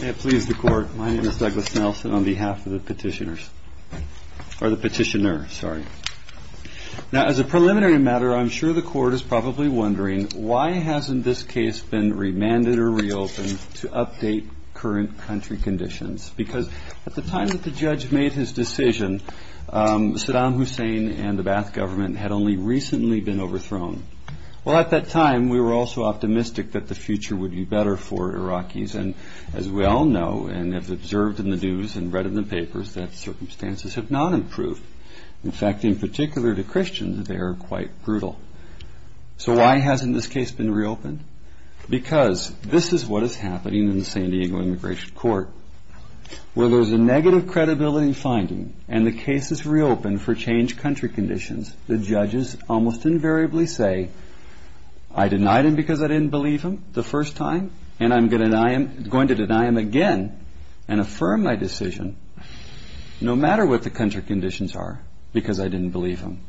May it please the Court, my name is Douglas Nelson on behalf of the Petitioner. As a preliminary matter, I'm sure the Court is probably wondering, why hasn't this case been remanded or reopened to update current country conditions? Because at the time that the judge made his decision, Saddam Hussein and the Ba'ath government had only recently been overthrown. Well, at that time, we were also optimistic that the future would be better for Iraqis. And as we all know, and have observed in the news and read in the papers, that circumstances have not improved. In fact, in particular to Christians, they are quite brutal. So why hasn't this case been reopened? Because this is what is happening in the San Diego Immigration Court. Where there's a negative credibility finding, and the case is reopened for changed country conditions, the judges almost invariably say, I denied him because I didn't believe him the first time, and I'm going to deny him again and affirm my decision, no matter what the country conditions are, because I didn't believe him.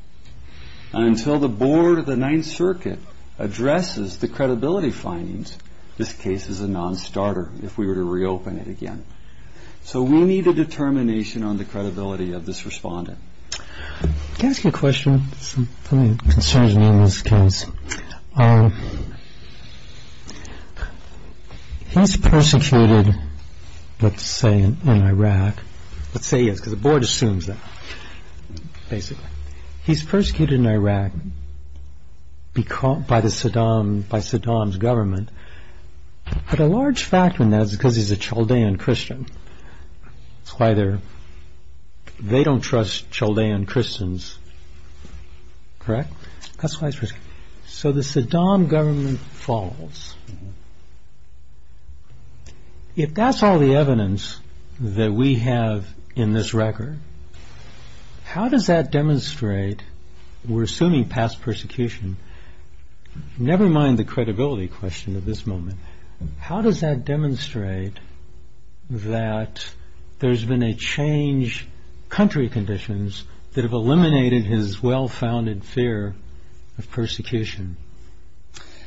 And until the board of the Ninth Circuit addresses the credibility findings, this case is a non-starter if we were to reopen it again. So we need a determination on the credibility of this respondent. Can I ask you a question? Something that concerns me in this case. He's persecuted, let's say, in Iraq. Let's say he is, because the board assumes that, basically. He's persecuted in Iraq by Saddam's government. But a large factor in that is because he's a Chaldean Christian. That's why they don't trust Chaldean Christians. Correct? That's why he's persecuted. So the Saddam government falls. If that's all the evidence that we have in this record, how does that demonstrate, we're assuming past persecution, never mind the credibility question at this moment, how does that demonstrate that there's been a change, country conditions, that have eliminated his well-founded fear of persecution?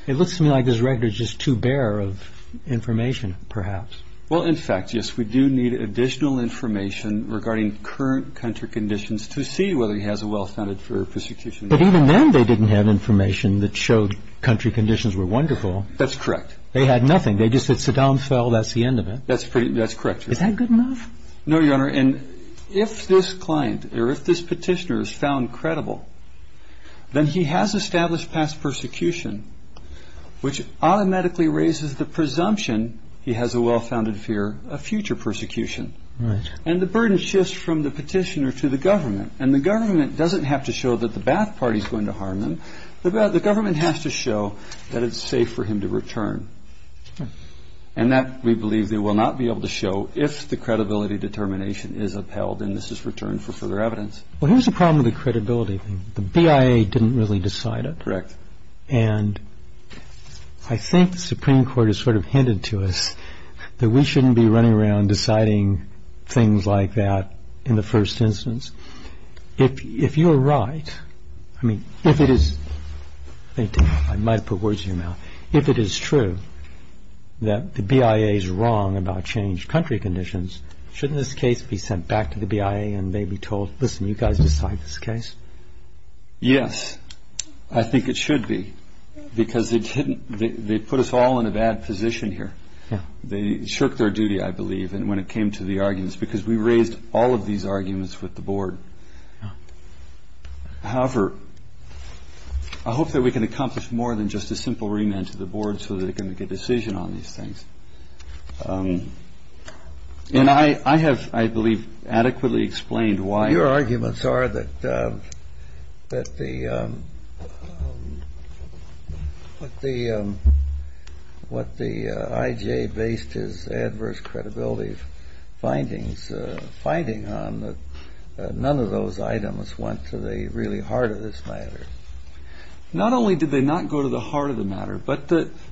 It looks to me like this record is just too bare of information, perhaps. Well, in fact, yes. We do need additional information regarding current country conditions to see whether he has a well-founded fear of persecution. But even then they didn't have information that showed country conditions were wonderful. That's correct. They had nothing. They just said Saddam fell. That's the end of it. That's correct. Is that good enough? No, Your Honor. If this client or if this petitioner is found credible, then he has established past persecution, which automatically raises the presumption he has a well-founded fear of future persecution. And the burden shifts from the petitioner to the government. And the government doesn't have to show that the Ba'ath Party is going to harm him. The government has to show that it's safe for him to return. And that we believe they will not be able to show if the credibility determination is upheld, and this is returned for further evidence. Well, here's the problem with the credibility thing. The BIA didn't really decide it. Correct. And I think the Supreme Court has sort of hinted to us that we shouldn't be running around deciding things like that in the first instance. If you're right, I mean, if it is, I might have put words in your mouth, if it is true that the BIA is wrong about changed country conditions, shouldn't this case be sent back to the BIA and they be told, listen, you guys decide this case? Yes, I think it should be, because they put us all in a bad position here. They shirked their duty, I believe, when it came to the arguments, because we raised all of these arguments with the board. However, I hope that we can accomplish more than just a simple remand to the board so that it can make a decision on these things. And I have, I believe, adequately explained why. Your arguments are that what the IJ based his adverse credibility findings on, that none of those items went to the really heart of this matter. Not only did they not go to the heart of the matter, but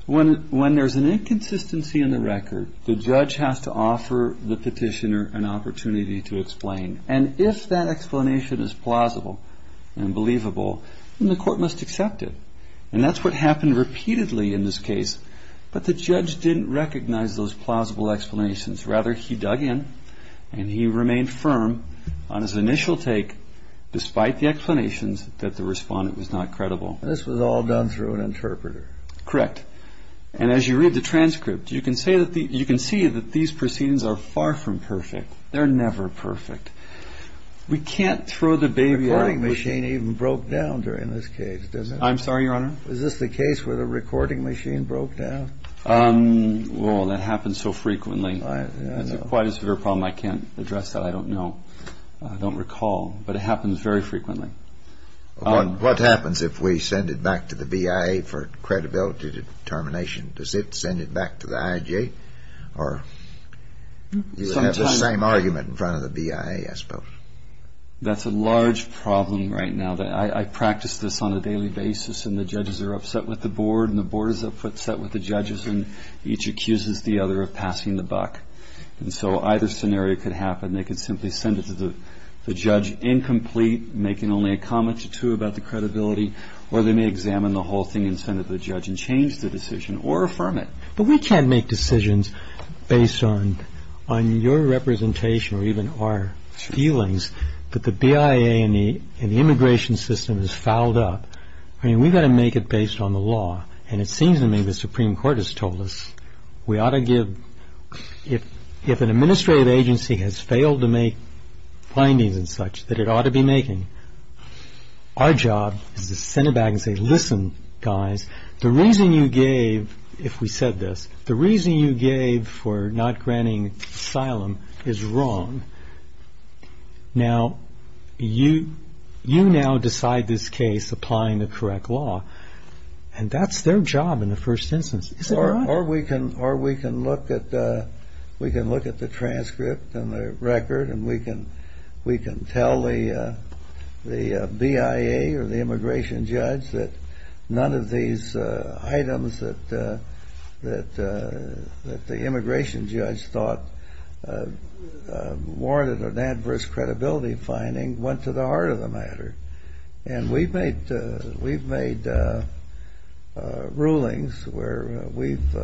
when there's an inconsistency in the record, the judge has to offer the petitioner an opportunity to explain. And if that explanation is plausible and believable, then the court must accept it. And that's what happened repeatedly in this case. But the judge didn't recognize those plausible explanations. Rather, he dug in and he remained firm on his initial take, despite the explanations, that the respondent was not credible. This was all done through an interpreter. Correct. And as you read the transcript, you can see that these proceedings are far from perfect. They're never perfect. We can't throw the baby on the machine. The recording machine even broke down during this case, does it? I'm sorry, Your Honor? Is this the case where the recording machine broke down? Well, that happens so frequently. I know. It's quite a severe problem. I can't address that. I don't know. I don't recall. But it happens very frequently. What happens if we send it back to the BIA for credibility determination? Does it send it back to the IJ? Or you have the same argument in front of the BIA, I suppose. That's a large problem right now. I practice this on a daily basis, and the judges are upset with the board, and the board is upset with the judges, and each accuses the other of passing the buck. And so either scenario could happen. They could simply send it to the judge incomplete, making only a comment or two about the credibility, or they may examine the whole thing and send it to the judge and change the decision or affirm it. But we can't make decisions based on your representation or even our feelings that the BIA and the immigration system has fouled up. I mean, we've got to make it based on the law. And it seems to me the Supreme Court has told us we ought to give. If an administrative agency has failed to make findings and such that it ought to be making, our job is to send it back and say, Listen, guys, the reason you gave, if we said this, the reason you gave for not granting asylum is wrong. Now, you now decide this case, applying the correct law. And that's their job in the first instance. Or we can look at the transcript and the record, and we can tell the BIA or the immigration judge that none of these items that the immigration judge thought warranted an adverse credibility finding went to the heart of the matter. And we've made rulings where we've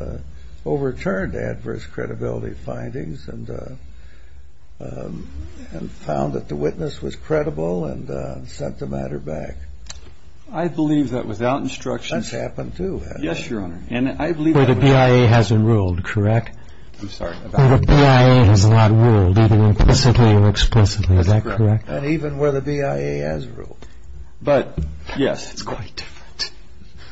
overturned adverse credibility findings and found that the witness was credible and sent the matter back. I believe that without instruction. That's happened too, hasn't it? Yes, Your Honor. Where the BIA hasn't ruled, correct? I'm sorry. Where the BIA has not ruled, either implicitly or explicitly. Is that correct? And even where the BIA has ruled. But, yes. It's quite different.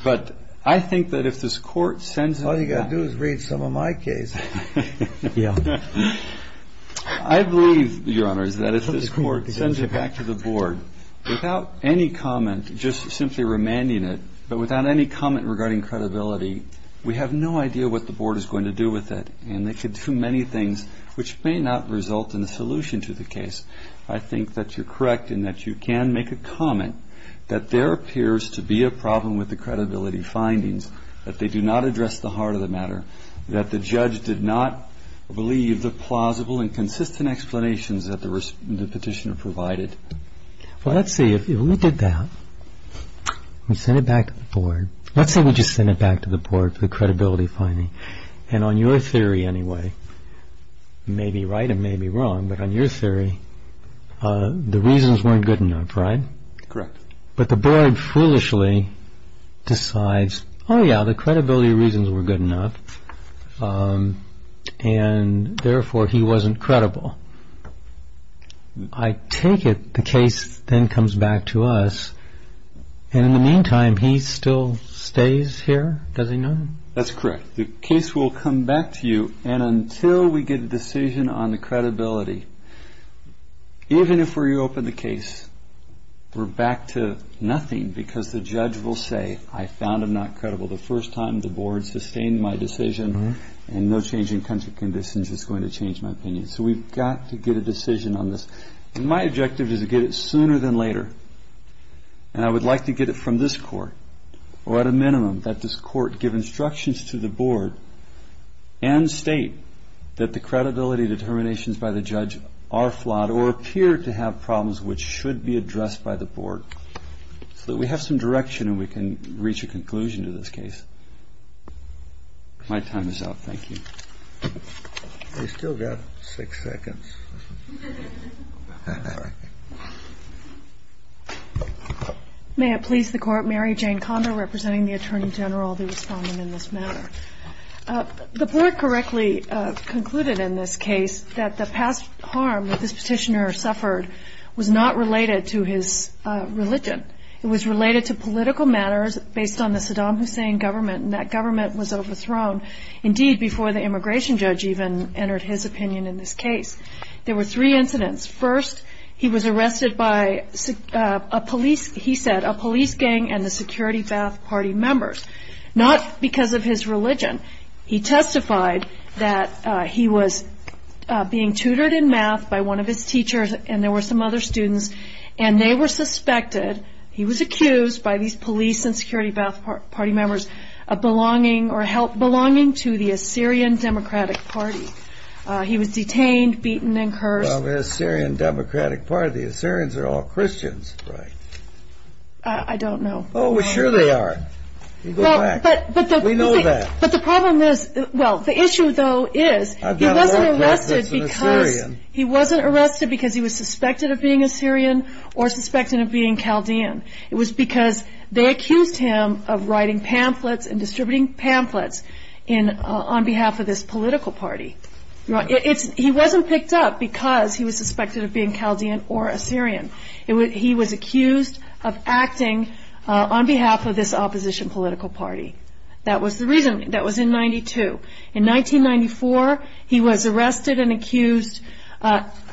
But I think that if this Court sends it back. All you've got to do is read some of my case. Yeah. I believe, Your Honor, is that if this Court sends it back to the Board without any comment, just simply remanding it, but without any comment regarding credibility, we have no idea what the Board is going to do with it. And they could do many things, which may not result in a solution to the case. I think that you're correct in that you can make a comment that there appears to be a problem with the credibility findings, that they do not address the heart of the matter, that the judge did not believe the plausible and consistent explanations that the petitioner provided. Well, let's see. If we did that, we send it back to the Board. Let's say we just send it back to the Board for the credibility finding. And on your theory, anyway, it may be right, it may be wrong, but on your theory, the reasons weren't good enough, right? Correct. But the Board foolishly decides, oh, yeah, the credibility reasons were good enough, and therefore he wasn't credible. I take it the case then comes back to us, and in the meantime, he still stays here? Does he know? That's correct. The case will come back to you, and until we get a decision on the credibility, even if we reopen the case, we're back to nothing because the judge will say, I found him not credible the first time, the Board sustained my decision, and no change in country conditions is going to change my opinion. So we've got to get a decision on this. My objective is to get it sooner than later, and I would like to get it from this Court, or at a minimum, that this Court give instructions to the Board and state that the credibility determinations by the judge are flawed or appear to have problems which should be addressed by the Board so that we have some direction and we can reach a conclusion to this case. My time is up. Thank you. We've still got six seconds. May it please the Court, Mary Jane Condo representing the Attorney General, the respondent in this matter. The Board correctly concluded in this case that the past harm that this petitioner suffered was not related to his religion. It was related to political matters based on the Saddam Hussein government, and that government was overthrown, indeed, before the immigration judge even entered his opinion in this case. There were three incidents. First, he was arrested by, he said, a police gang and the Security Ba'ath Party members, not because of his religion. He testified that he was being tutored in math by one of his teachers, and there were some other students, and they were suspected, he was accused by these police and Security Ba'ath Party members, of belonging to the Assyrian Democratic Party. He was detained, beaten, and cursed. Well, the Assyrian Democratic Party, the Assyrians are all Christians, right? I don't know. Oh, sure they are. You go back. We know that. But the problem is, well, the issue, though, is he wasn't arrested because he was suspected of being Assyrian or suspected of being Chaldean. It was because they accused him of writing pamphlets and distributing pamphlets on behalf of this political party. He wasn't picked up because he was suspected of being Chaldean or Assyrian. He was accused of acting on behalf of this opposition political party. That was the reason. That was in 1992. In 1994, he was arrested and accused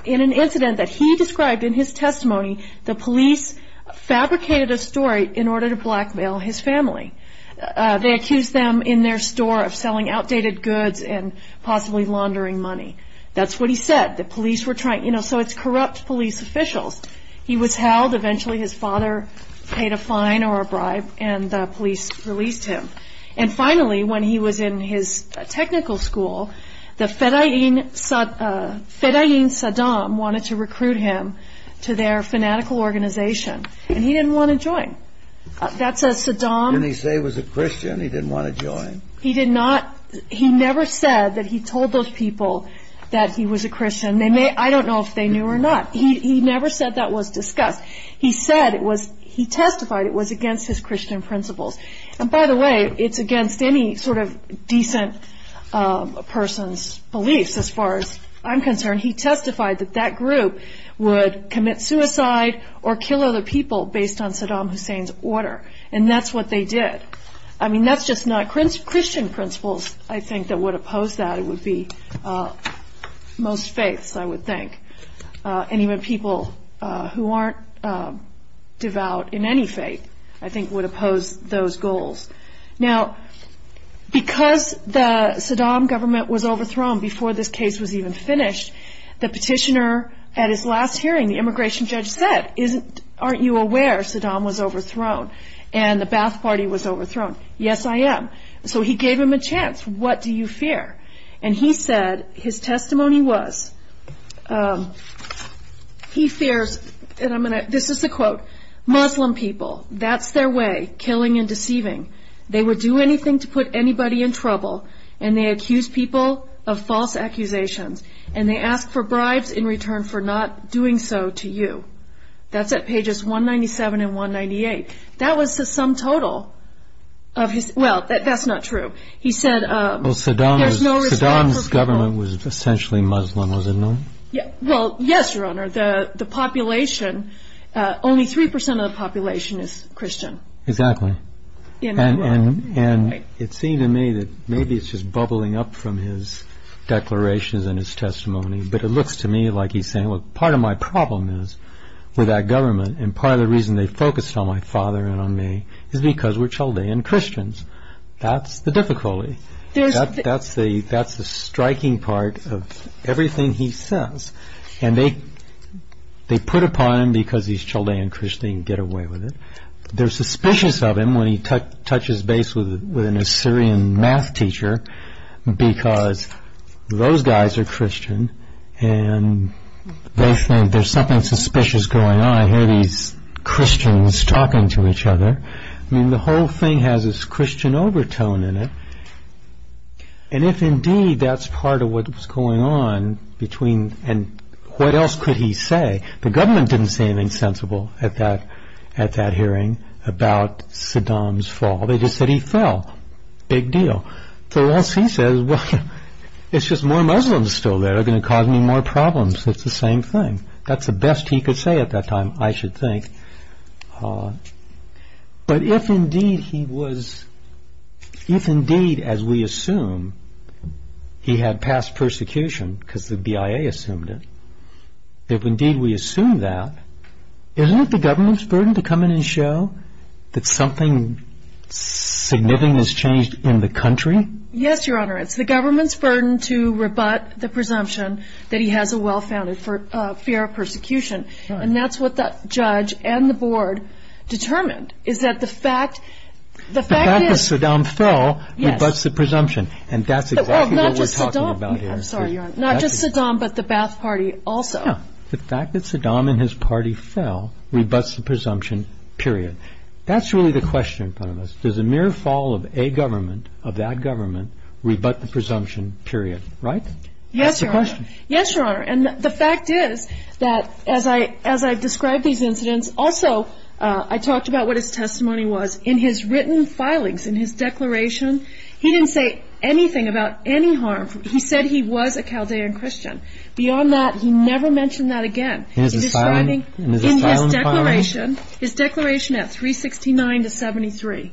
in an incident that he described in his testimony, the police fabricated a story in order to blackmail his family. They accused them in their store of selling outdated goods and possibly laundering money. That's what he said. The police were trying, you know, so it's corrupt police officials. He was held. Eventually his father paid a fine or a bribe, and the police released him. And finally, when he was in his technical school, the Fedayeen Saddam wanted to recruit him to their fanatical organization, and he didn't want to join. Didn't he say he was a Christian? He didn't want to join? He never said that he told those people that he was a Christian. I don't know if they knew or not. He never said that was discussed. He testified it was against his Christian principles. And by the way, it's against any sort of decent person's beliefs as far as I'm concerned. He testified that that group would commit suicide or kill other people based on Saddam Hussein's order, and that's what they did. I mean, that's just not Christian principles, I think, that would oppose that. It would be most faiths, I would think. And even people who aren't devout in any faith, I think, would oppose those goals. Now, because the Saddam government was overthrown before this case was even finished, the petitioner at his last hearing, the immigration judge said, aren't you aware Saddam was overthrown and the Ba'ath Party was overthrown? Yes, I am. So he gave him a chance. What do you fear? And he said his testimony was he fears, and this is the quote, Muslim people, that's their way, killing and deceiving. They would do anything to put anybody in trouble, and they accuse people of false accusations, and they ask for bribes in return for not doing so to you. That's at pages 197 and 198. That was the sum total of his, well, that's not true. Well, Saddam's government was essentially Muslim, was it not? Well, yes, Your Honor. The population, only 3% of the population is Christian. Exactly. And it seemed to me that maybe it's just bubbling up from his declarations and his testimony, but it looks to me like he's saying, well, part of my problem is with that government, and part of the reason they focused on my father and on me is because we're Chaldean Christians. That's the difficulty. That's the striking part of everything he says. And they put upon him, because he's Chaldean Christian, get away with it. They're suspicious of him when he touches base with an Assyrian math teacher because those guys are Christian, and they think there's something suspicious going on. I hear these Christians talking to each other. I mean, the whole thing has this Christian overtone in it. And if indeed that's part of what was going on between, and what else could he say? The government didn't say anything sensible at that hearing about Saddam's fall. They just said he fell. Big deal. So else he says, well, it's just more Muslims still there are going to cause me more problems. It's the same thing. That's the best he could say at that time, I should think. But if indeed he was, if indeed, as we assume, he had passed persecution because the BIA assumed it, if indeed we assume that, isn't it the government's burden to come in and show that something significant has changed in the country? Yes, Your Honor, it's the government's burden to rebut the presumption that he has a well-founded fear of persecution. And that's what the judge and the board determined. The fact that Saddam fell rebuts the presumption. And that's exactly what we're talking about here. Not just Saddam, but the Ba'ath Party also. The fact that Saddam and his party fell rebuts the presumption, period. That's really the question in front of us. Does a mere fall of a government, of that government, rebut the presumption, period, right? Yes, Your Honor. That's the question. Yes, Your Honor. And the fact is that as I've described these incidents, also I talked about what his testimony was. In his written filings, in his declaration, he didn't say anything about any harm. He said he was a Chaldean Christian. Beyond that, he never mentioned that again. In his asylum filing? In his declaration, his declaration at 369 to 73,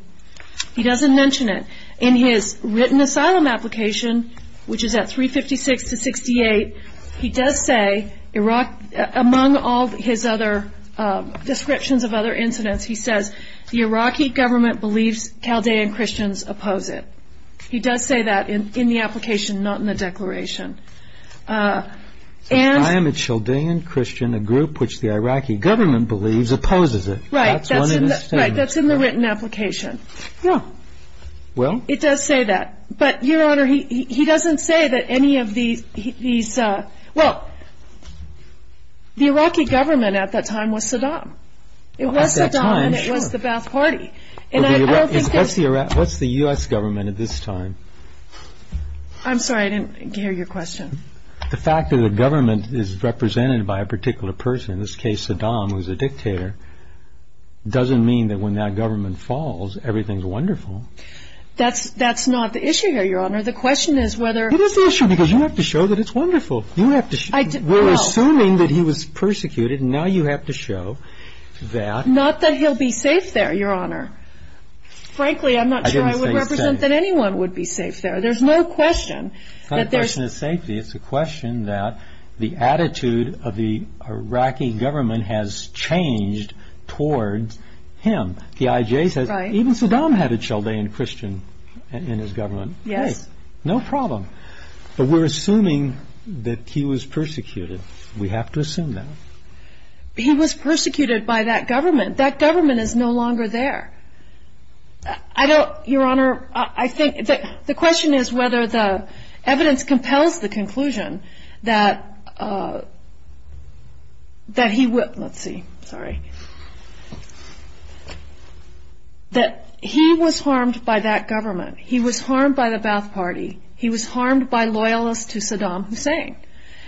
he doesn't mention it. In his written asylum application, which is at 356 to 68, he does say, among all his other descriptions of other incidents, he says, the Iraqi government believes Chaldean Christians oppose it. He does say that in the application, not in the declaration. I am a Chaldean Christian, a group which the Iraqi government believes opposes it. Right, that's in the written application. Yeah. Well? It does say that. But, Your Honor, he doesn't say that any of these, well, the Iraqi government at that time was Saddam. At that time, sure. It was Saddam and it was the Ba'ath Party. What's the U.S. government at this time? I'm sorry, I didn't hear your question. The fact that a government is represented by a particular person, in this case Saddam, who's a dictator, doesn't mean that when that government falls, everything's wonderful. That's not the issue here, Your Honor. The question is whether It is the issue because you have to show that it's wonderful. We're assuming that he was persecuted and now you have to show that Not that he'll be safe there, Your Honor. Frankly, I'm not sure I would represent that anyone would be safe there. There's no question that there's It's a question that the attitude of the Iraqi government has changed towards him. The IJ says even Saddam had a Chaldean Christian in his government. Yes. No problem. But we're assuming that he was persecuted. We have to assume that. He was persecuted by that government. That government is no longer there. I don't, Your Honor, I think the question is whether the evidence compels the conclusion that he was harmed by that government. He was harmed by the Ba'ath Party. He was harmed by loyalists to Saddam Hussein.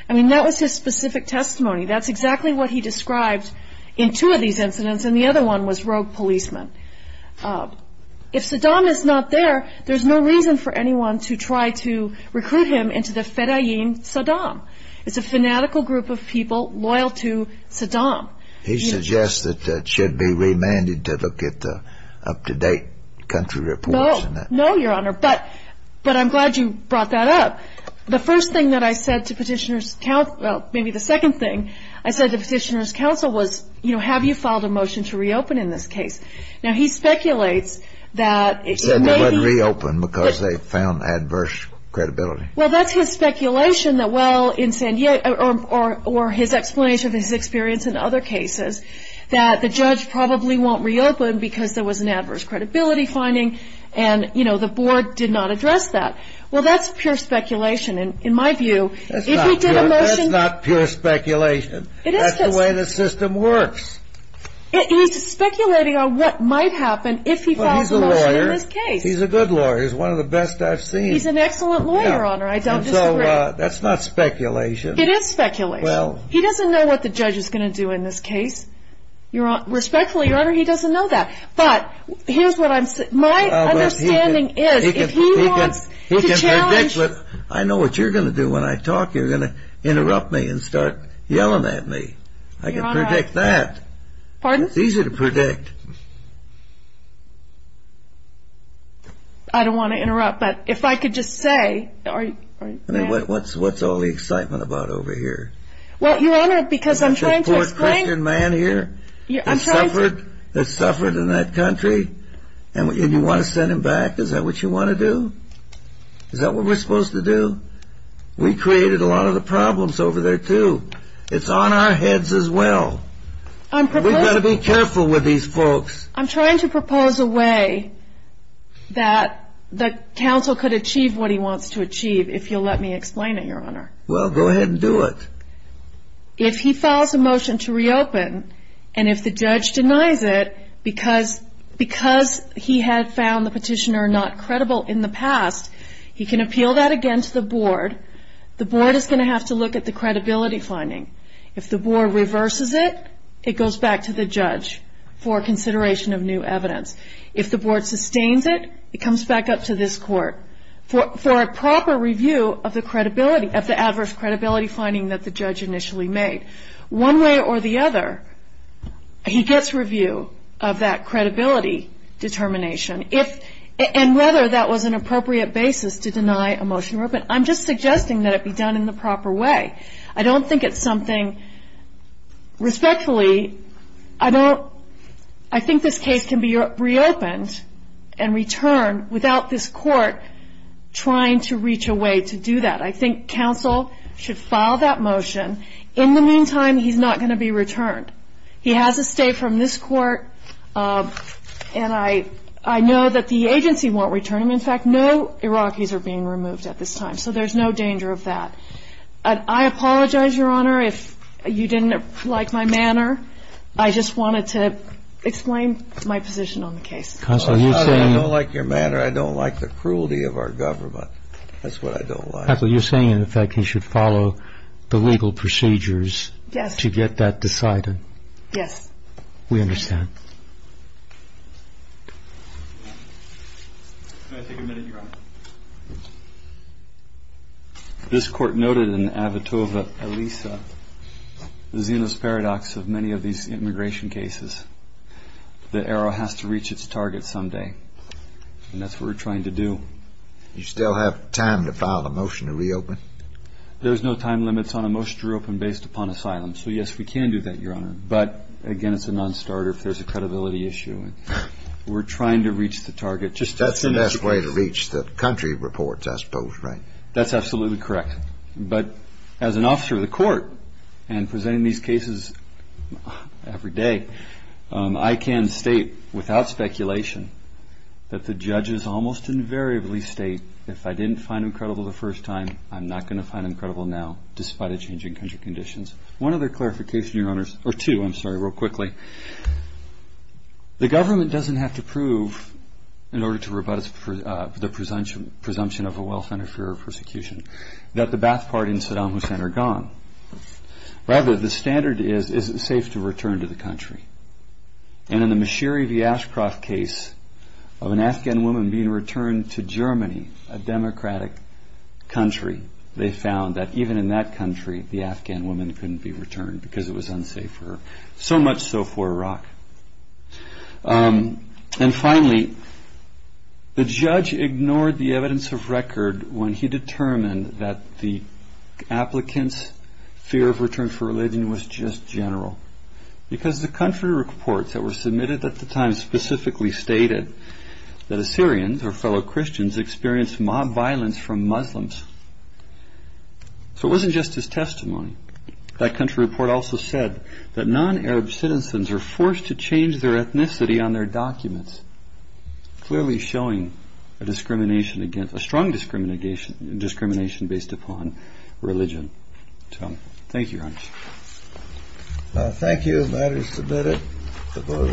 I mean, that was his specific testimony. That's exactly what he described in two of these incidents. And the other one was rogue policemen. If Saddam is not there, there's no reason for anyone to try to recruit him into the fedayeen Saddam. It's a fanatical group of people loyal to Saddam. He suggests that it should be remanded to look at the up-to-date country reports. No, Your Honor. But I'm glad you brought that up. The first thing that I said to petitioners, well, maybe the second thing, I said to petitioners' counsel was, you know, have you filed a motion to reopen in this case? Now, he speculates that it may be. Said it wouldn't reopen because they found adverse credibility. Well, that's his speculation that, well, or his explanation of his experience in other cases, that the judge probably won't reopen because there was an adverse credibility finding, and, you know, the board did not address that. Well, that's pure speculation. And in my view, if he did a motion. That's not pure speculation. That's the way the system works. He's speculating on what might happen if he files a motion in this case. Well, he's a lawyer. He's a good lawyer. He's one of the best I've seen. He's an excellent lawyer, Your Honor. I don't disagree. And so that's not speculation. It is speculation. Well. He doesn't know what the judge is going to do in this case. Respectfully, Your Honor, he doesn't know that. But here's what I'm saying. My understanding is if he wants to challenge. I know what you're going to do when I talk. You're going to interrupt me and start yelling at me. I can predict that. Pardon? It's easy to predict. I don't want to interrupt, but if I could just say. What's all the excitement about over here? Well, Your Honor, because I'm trying to explain. This poor Christian man here has suffered in that country, and you want to send him back? Is that what you want to do? Is that what we're supposed to do? We created a lot of the problems over there, too. It's on our heads as well. We've got to be careful with these folks. I'm trying to propose a way that the counsel could achieve what he wants to achieve, if you'll let me explain it, Your Honor. Well, go ahead and do it. If he files a motion to reopen, and if the judge denies it, because he had found the petitioner not credible in the past, he can appeal that again to the board. The board is going to have to look at the credibility finding. If the board reverses it, it goes back to the judge for consideration of new evidence. If the board sustains it, it comes back up to this court for a proper review of the credibility, of the adverse credibility finding that the judge initially made. One way or the other, he gets review of that credibility determination, and whether that was an appropriate basis to deny a motion to reopen. I'm just suggesting that it be done in the proper way. I don't think it's something respectfully. I think this case can be reopened and returned without this court trying to reach a way to do that. I think counsel should file that motion. In the meantime, he's not going to be returned. He has to stay from this court, and I know that the agency won't return him. In fact, no Iraqis are being removed at this time, so there's no danger of that. I apologize, Your Honor, if you didn't like my manner. I just wanted to explain my position on the case. Counsel, you're saying you don't like your manner. I don't like the cruelty of our government. That's what I don't like. Counsel, you're saying, in effect, he should follow the legal procedures to get that decided. Yes. We understand. Can I take a minute, Your Honor? This court noted in Avitova-Elisa, the Zenith Paradox of many of these immigration cases, that Arrow has to reach its target someday, and that's what we're trying to do. Do you still have time to file a motion to reopen? There's no time limits on a motion to reopen based upon asylum. So, yes, we can do that, Your Honor. But, again, it's a non-starter if there's a credibility issue. We're trying to reach the target just as soon as we can. That's the best way to reach the country reports, I suppose, right? That's absolutely correct. But as an officer of the court and presenting these cases every day, I can state, without speculation, that the judges almost invariably state, if I didn't find them credible the first time, I'm not going to find them credible now, despite a change in country conditions. One other clarification, Your Honors, or two, I'm sorry, real quickly. The government doesn't have to prove, in order to rebut the presumption of a wealth interferer persecution, that the Ba'ath Party and Saddam Hussein are gone. Rather, the standard is, is it safe to return to the country? And in the Mashiri v. Ashcroft case of an Afghan woman being returned to Germany, a democratic country, they found that even in that country the Afghan woman couldn't be returned because it was unsafe for her, so much so for Iraq. And finally, the judge ignored the evidence of record when he determined that the applicant's fear of return for religion was just general. Because the country reports that were submitted at the time specifically stated that Assyrians or fellow Christians experienced mob violence from Muslims. So it wasn't just his testimony. That country report also said that non-Arab citizens are forced to change their ethnicity on their documents, clearly showing a strong discrimination based upon religion. Thank you, Your Honors. Thank you. Matter is submitted.